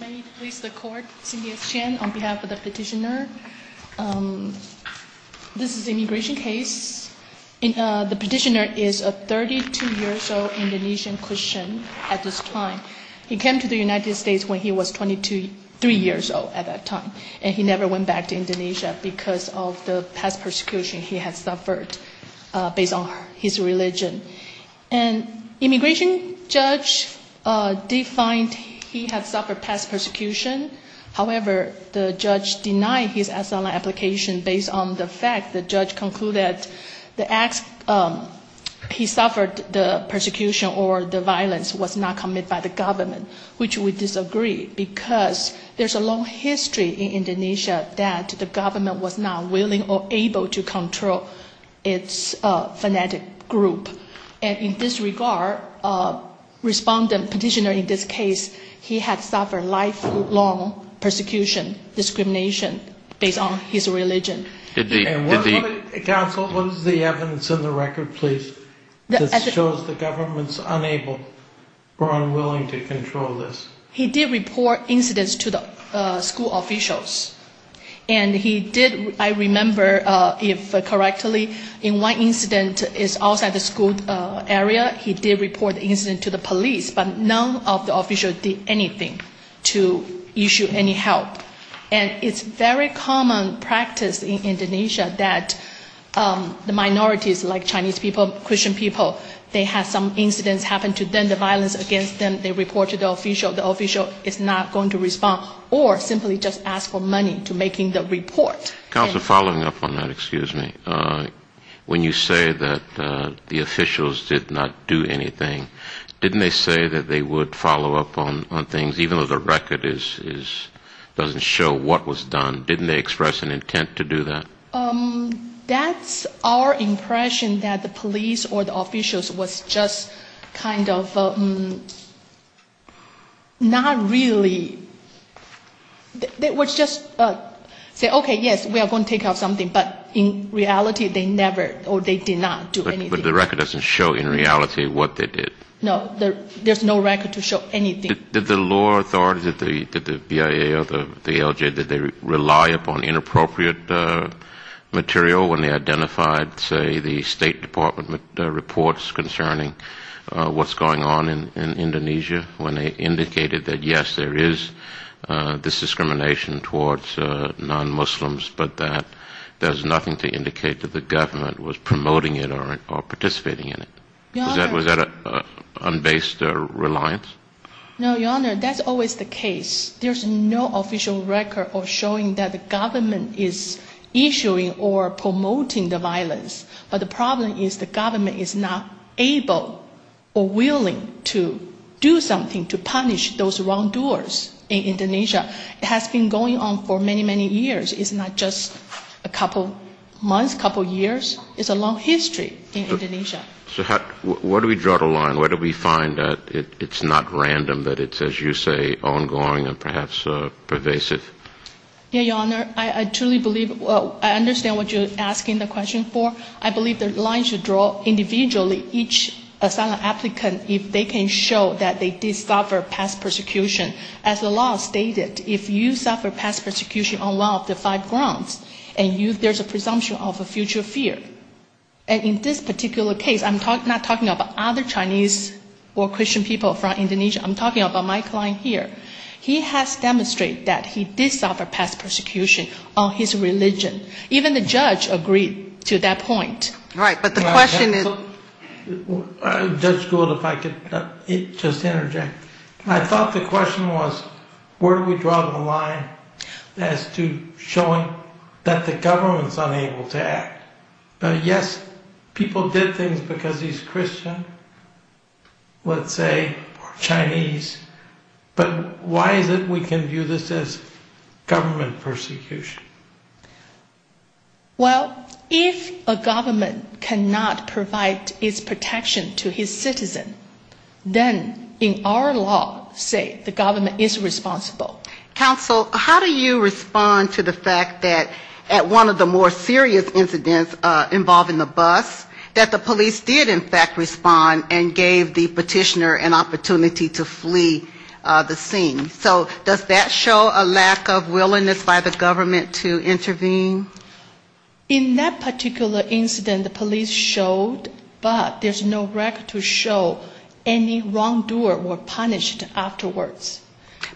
May I please the court, C.S. Chen, on behalf of the petitioner. This is an immigration case. The petitioner is a 32-year-old Indonesian Christian at this time. He came to the United States when he was 23 years old at that time, and he never went back to Indonesia because of the past persecution he had suffered based on his religion. An immigration judge defined he had suffered past persecution. However, the judge denied his asylum application based on the fact the judge concluded he suffered the persecution or the violence was not committed by the government, which we disagree because there's a long history in Indonesia that the government was not willing or able to control its fanatic group. And in this regard, respondent petitioner in this case, he had suffered lifelong persecution, discrimination based on his religion. Counsel, what is the evidence in the record, please, that shows the government's unable or unwilling to control this? He did report incidents to the school officials. And he did, I remember if correctly, in one incident is outside the school area, he did report the incident to the police, but none of the officials did anything to issue any help. And it's very common practice in Indonesia that the minorities like Chinese people, Christian people, they have some incidents happen to them, the violence against them, they report to the official, the official is not going to respond, or simply just ask for money to making the report. Counsel, following up on that, excuse me, when you say that the officials did not do anything, didn't they say that they would follow up on things, even though the record doesn't show what was done, didn't they express an intent to do that? That's our impression, that the police or the officials was just kind of not really, they would just say, okay, yes, we are going to take out something, but in reality, they never, or they did not do anything. But the record doesn't show in reality what they did. No, there's no record to show anything. Did the law authorities, did the BIA or the LJ, did they rely upon inappropriate material when they identified, say, the State Department reports concerning what's going on in Indonesia, when they indicated that, yes, there is this discrimination towards non-Muslims, but that there's nothing to indicate that the government was promoting it or participating in it? Was that an unbased reliance? No, Your Honor, that's always the case. There's no official record of showing that the government is issuing or promoting the violence. But the problem is the government is not able or willing to do something to punish those wrongdoers in Indonesia. It has been going on for many, many years. It's not just a couple months, couple years. It's a long history in Indonesia. So where do we draw the line? Where do we find that it's not random, that it's, as you say, ongoing and perhaps pervasive? Yes, Your Honor, I truly believe, I understand what you're asking the question for. I believe the line should draw individually each asylum applicant if they can show that they did suffer past persecution. As the law stated, if you suffer past persecution on one of the five grounds and there's a presumption of a future fear, and in this particular case I'm not talking about other Chinese or Christian people from Indonesia. I'm talking about my client here. He has demonstrated that he did suffer past persecution on his religion. Even the judge agreed to that point. Right, but the question is... Judge Gould, if I could just interject. I thought the question was where do we draw the line as to showing that the government is unable to act? Yes, people did things because he's Christian, let's say, or Chinese, but why is it we can view this as government persecution? Well, if a government cannot provide its protection to his citizen, then in our law say the government is responsible. Counsel, how do you respond to the fact that at one of the more serious incidents involving the bus, that the police did in fact respond and gave the petitioner an opportunity to flee the scene? So does that show a lack of willingness by the government to intervene? In that particular incident, the police showed, but there's no record to show any wrongdoer were punished afterwards.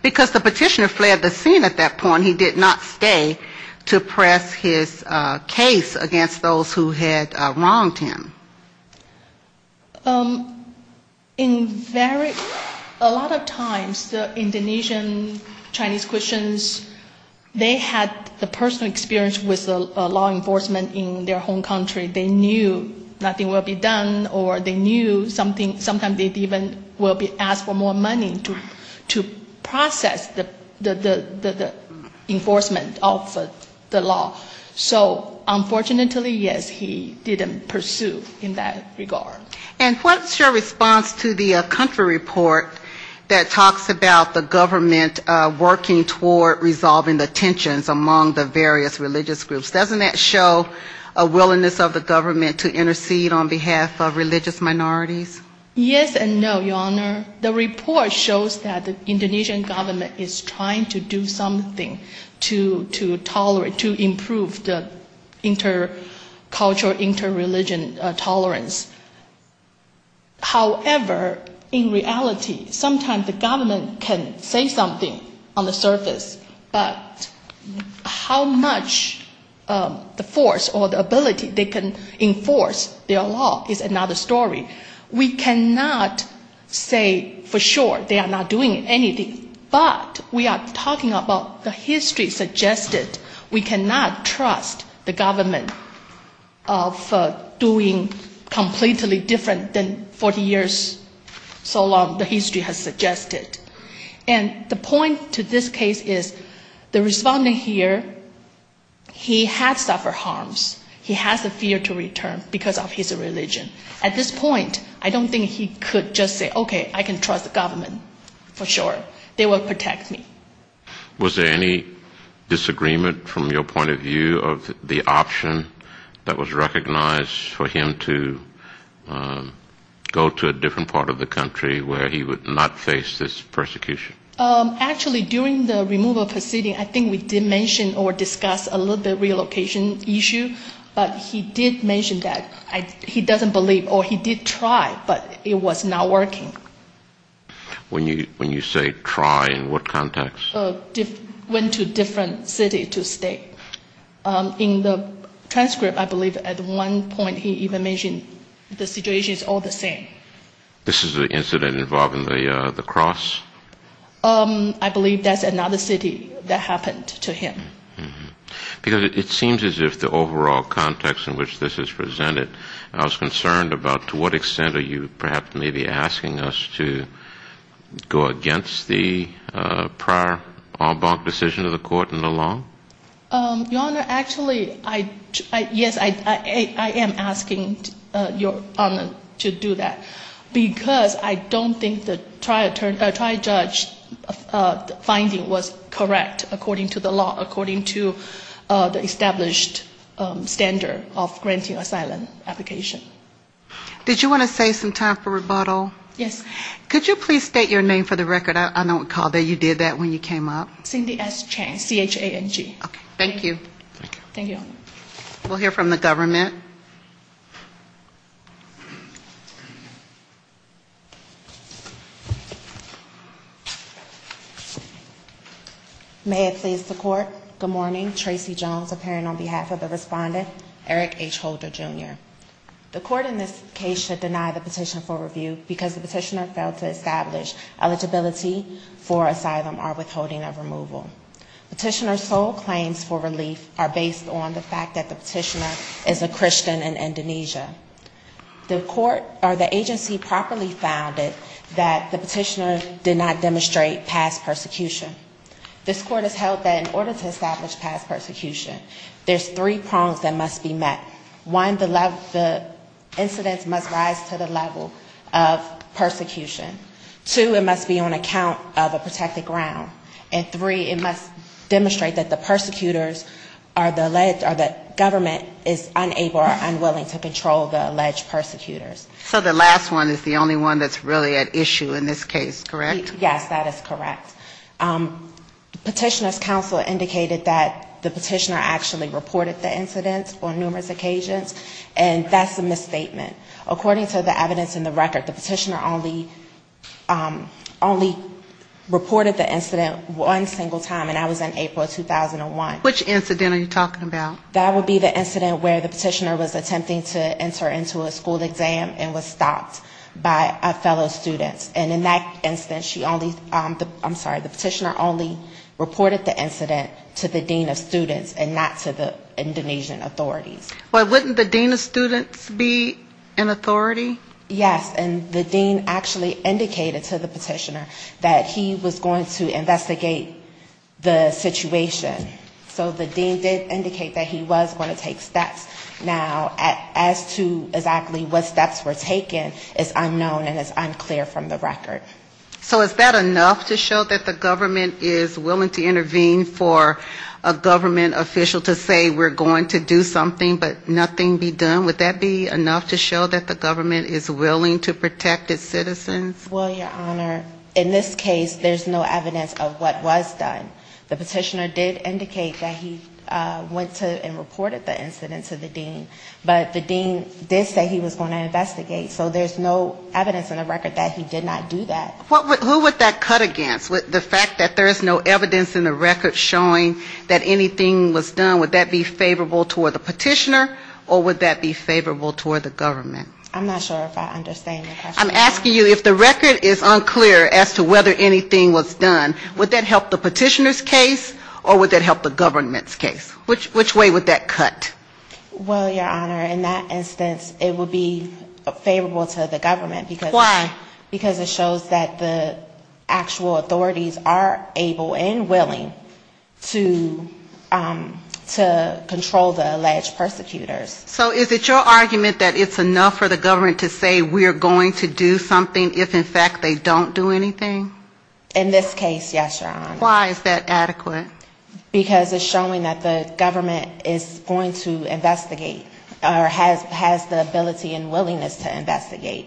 Because the petitioner fled the scene at that point, he did not stay to press his case against those who had wronged him. In very, a lot of times, the Indonesian Chinese Christians, they had the personal experience with the law enforcement in their home country. They knew nothing will be done, or they knew something, sometimes they even will be asked for more money to pay. To process the enforcement of the law. So unfortunately, yes, he didn't pursue in that regard. And what's your response to the country report that talks about the government working toward resolving the tensions among the various religious groups? Doesn't that show a willingness of the government to intercede on behalf of religious minorities? Yes and no, Your Honor. The report shows that the Indonesian government is trying to do something to tolerate, to improve the intercultural, interreligion tolerance. However, in reality, sometimes the government can say something on the surface, but how much the force or the ability they can enforce their law is another story. We cannot say for sure they are not doing anything, but we are talking about the history suggested. We cannot trust the government of doing completely different than 40 years so long the history has suggested. And the point to this case is the respondent here, he had suffered harms, he has a fear to return because of his religion. At this point, I don't think he could just say, okay, I can trust the government for sure. They will protect me. Was there any disagreement from your point of view of the option that was recognized for him to go to a different part of the country where he would not face this persecution? Actually, during the removal proceeding, I think we did mention or discuss a little bit relocation issue, but he did mention that he doesn't believe in that. He did believe or he did try, but it was not working. When you say try, in what context? Went to different city to stay. In the transcript, I believe at one point he even mentioned the situation is all the same. This is an incident involving the cross? I believe that's another city that happened to him. Because it seems as if the overall context in which this is presented, I was concerned about to what extent are you perhaps maybe asking us to go against the prior Arbonne decision of the court in the law? Your Honor, actually, yes, I am asking Your Honor to do that. Because I don't think the trial judge finding was correct according to the law, according to the established standard of granting asylum application. Did you want to save some time for rebuttal? Yes. Could you please state your name for the record? I don't recall that you did that when you came up. May it please the court, good morning, Tracy Jones appearing on behalf of the respondent, Eric H. Holder, Jr. The court in this case should deny the petition for review because the petitioner failed to establish eligibility for asylum or withholding of removal. Petitioner's sole claims for relief are based on the fact that the petitioner is a Christian in Indonesia. The court or the agency properly found that the petitioner did not demonstrate past persecution. This court has held that in order to establish past persecution, there's three prongs that must be met. One, the incidents must rise to the level of persecution. Two, it must be on account of a protected ground. And three, it must demonstrate that the persecutors are the alleged, or the government is unable or unwilling to control the alleged persecutors. So the last one is the only one that's really at issue in this case, correct? Yes, that is correct. Petitioner's counsel indicated that the petitioner actually reported the incidents on numerous occasions, and that's a misstatement. According to the evidence in the record, the petitioner only reported the incidents on several occasions. One single time, and that was in April of 2001. Which incident are you talking about? That would be the incident where the petitioner was attempting to enter into a school exam and was stopped by a fellow student. And in that instance, she only, I'm sorry, the petitioner only reported the incident to the dean of students and not to the Indonesian authorities. Well, wouldn't the dean of students be an authority? So the dean did indicate that he was going to take steps. Now, as to exactly what steps were taken is unknown and is unclear from the record. So is that enough to show that the government is willing to intervene for a government official to say we're going to do something, but nothing be done? Would that be enough to show that the government is willing to protect its citizens? Well, Your Honor, in this case, there's no evidence of what was done. The petitioner did indicate that he went to and reported the incident to the dean. But the dean did say he was going to investigate. So there's no evidence in the record that he did not do that. Who would that cut against, the fact that there's no evidence in the record showing that anything was done? Would that be favorable toward the petitioner or would that be favorable toward the government? I'm not sure if I understand your question. I'm asking you, if the record is unclear as to whether anything was done, would that help the petitioner's case or would that help the government's case? Which way would that cut? Well, Your Honor, in that instance, it would be favorable to the government. Why? Because it shows that the actual authorities are able and willing to control the alleged persecutors. So is it your argument that it's enough for the government to say we're going to do something if, in fact, they don't do anything? In this case, yes, Your Honor. Why is that adequate? Because it's showing that the government is going to investigate, or has the ability and willingness to investigate.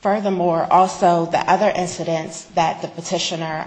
Furthermore, also, the other incidents that the petitioner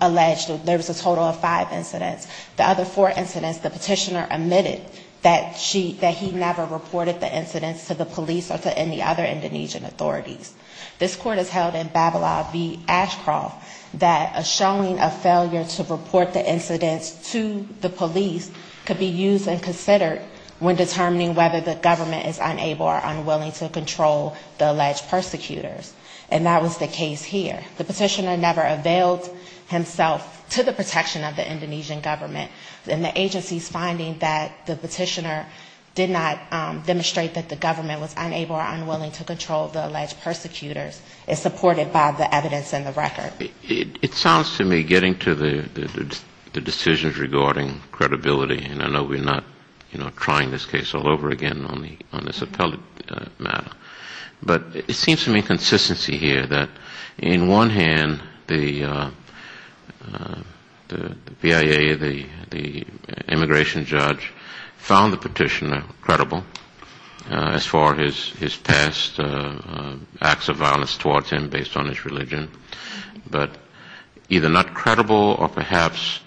alleged, there was a total of five incidents. The other four incidents, the petitioner admitted that she, that he never reported the incidents to the police or to any other Indonesian authorities. This Court has held in Babelaw v. Ashcroft that a showing of failure to report the incidents to the police could be used and considered when determining whether the government is unable or unwilling to control the alleged persecutors, and that was the case here. The petitioner never availed himself to the protection of the Indonesian government, and the agency's finding that the petitioner did not or unwilling to control the alleged persecutors is supported by the evidence in the record. It sounds to me, getting to the decisions regarding credibility, and I know we're not, you know, trying this case all over again on this appellate matter, but it seems to me consistency here that in one hand, the PIA, the immigration judge, found the petitioner credible as far as his past acts of violence towards him based on his religion, but either not credible or perhaps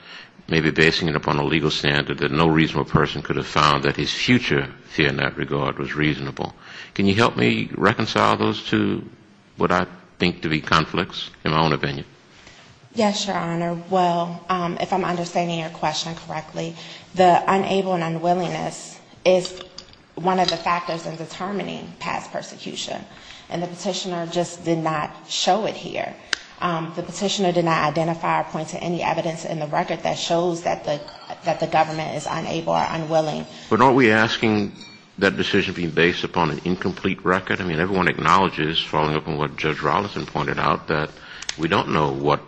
maybe basing it upon a legal standard that no reasonable person could have found that his future fear in that regard was reasonable. Can you help me reconcile those two, what I think to be conflicts, in my own opinion? Yes, Your Honor. Well, if I'm understanding your question correctly, the unable and unwillingness is one of the factors in determining past persecution, and the petitioner just did not show it here. The petitioner did not identify or point to any evidence in the record that shows that the government is unable or unwilling. But aren't we asking that decision be based upon an incomplete record? I mean, everyone acknowledges, following up on what Judge Rolison pointed out, that we don't know what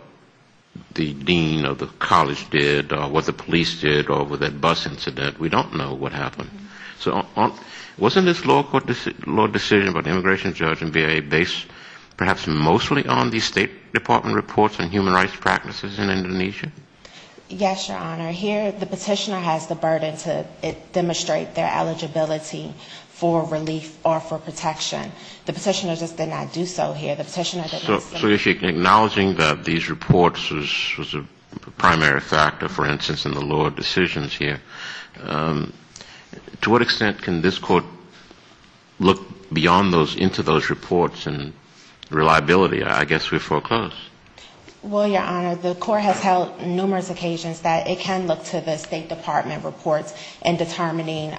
the dean of the college did, or what the police did, or with that bus incident, we don't know what the immigration judge and PIA based perhaps mostly on the State Department reports on human rights practices in Indonesia? Yes, Your Honor. Here the petitioner has the burden to demonstrate their eligibility for relief or for protection. The petitioner just did not do so here. The petitioner did not say... So if you're acknowledging that these reports was a primary factor, for instance, in the lower decisions here, to what extent can this court look beyond those, into those reports and reliability? I guess we're foreclosed. Well, Your Honor, the court has held numerous occasions that it can look to the State Department reports in determining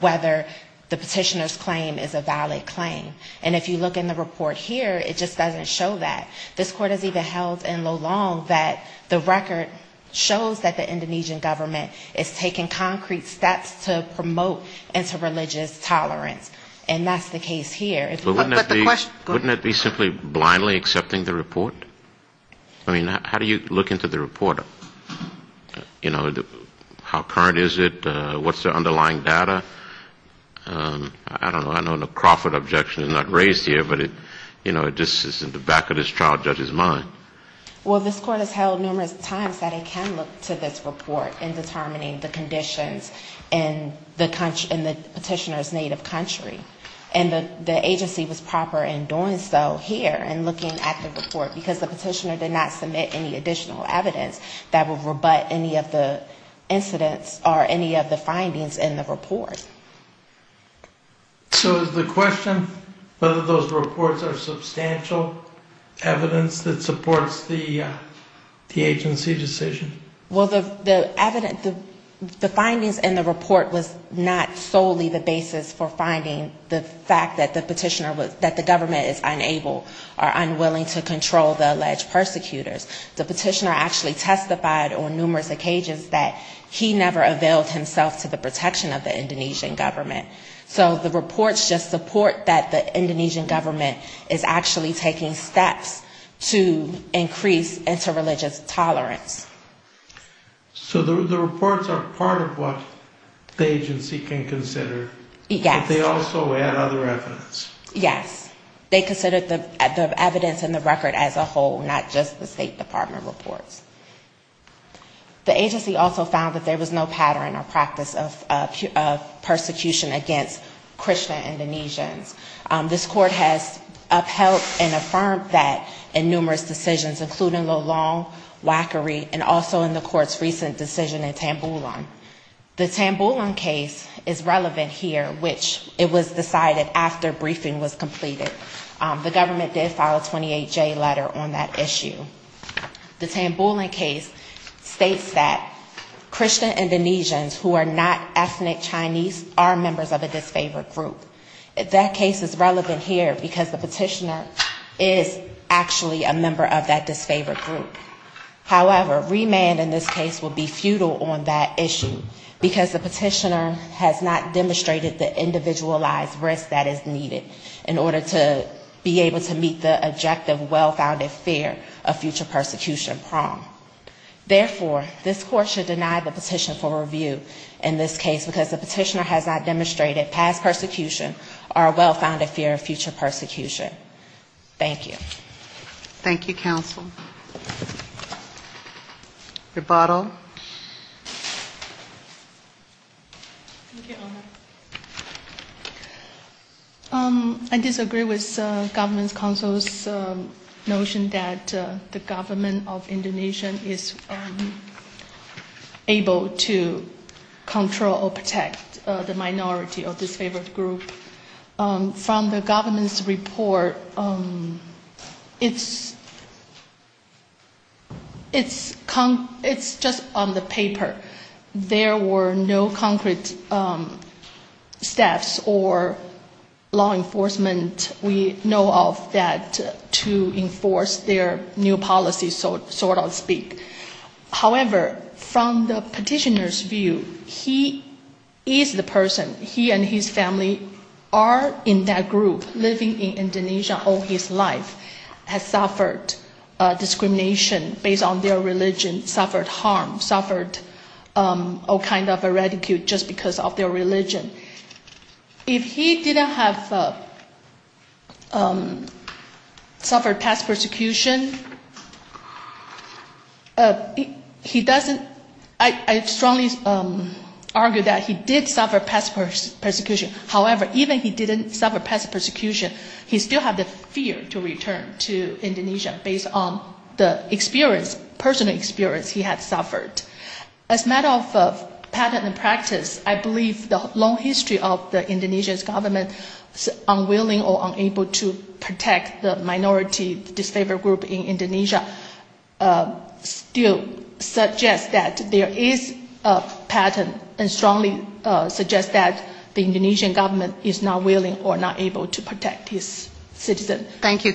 whether the petitioner's claim is a valid claim. And if you look in the report here, it just doesn't show that. This court has even held in Lulong that the record shows that the Indonesian government is taking concrete steps to promote interreligious tolerance. And that's the case here. But wouldn't that be simply blindly accepting the report? I mean, how do you look into the report? You know, how current is it? What's the underlying data? I don't know. I know the Crawford objection is not raised here, but, you know, it just is in the back of this child judge's mind. Well, this court has held numerous times that it can look to this report in determining the conditions in the petitioner's native country. And the agency was proper in doing so here, in looking at the report, because the petitioner did not submit any additional evidence that would rebut any of the incidents or any of the findings in the report. So is the question whether those reports are substantial evidence that supports the agency decision? Well, the findings in the report was not solely the basis for finding the fact that the petitioner was, that the government is unable or unwilling to control the alleged persecutors. The petitioner actually testified on numerous occasions that he never availed himself to the protection of the Indonesian government. So the reports just support that the Indonesian government is actually taking steps to increase interreligious tolerance. So the reports are part of what the agency can consider. Yes. But they also add other evidence. Yes. They considered the evidence in the record as a whole, not just the State Department reports. The agency also found that there was no pattern or practice of persecution against Christian Indonesians. This court has upheld and affirmed that in numerous decisions, including the long whackery and also in the court's recent decision in which the briefing was completed, the government did file a 28-J letter on that issue. The Tambulin case states that Christian Indonesians who are not ethnic Chinese are members of a disfavored group. That case is relevant here because the petitioner is actually a member of that disfavored group. However, remand in this case would be futile on that issue, because the petitioner has not demonstrated the individualized risk that is needed in order to be able to meet the objective well-founded fear of future persecution prong. Therefore, this court should deny the petition for review in this case, because the petitioner has not demonstrated past persecution or a well-founded fear of future persecution. Thank you. Thank you, counsel. I disagree with government counsel's notion that the government of Indonesia is able to control or protect the minority of disfavored group. From the government's report, it's just on the paper. There were no concrete steps or law enforcement, we know of, that to enforce their new policy, so to speak. However, from the petitioner's view, he is the person, he and his family are in that group, living in Indonesia all his life, has suffered discrimination based on their religion, suffered harm, suffered persecution. Or kind of a ridicule just because of their religion. If he didn't have suffered past persecution, he doesn't, I strongly argue that he did suffer past persecution. However, even if he didn't suffer past persecution, he still had the fear to return to Indonesia based on the experience, personal experience he had suffered. As a matter of pattern and practice, I believe the long history of the Indonesian government unwilling or unable to protect the minority disfavored group in Indonesia still suggests that there is a pattern and strongly suggests that the Indonesian government is not willing or not able to protect its citizens. Thank you.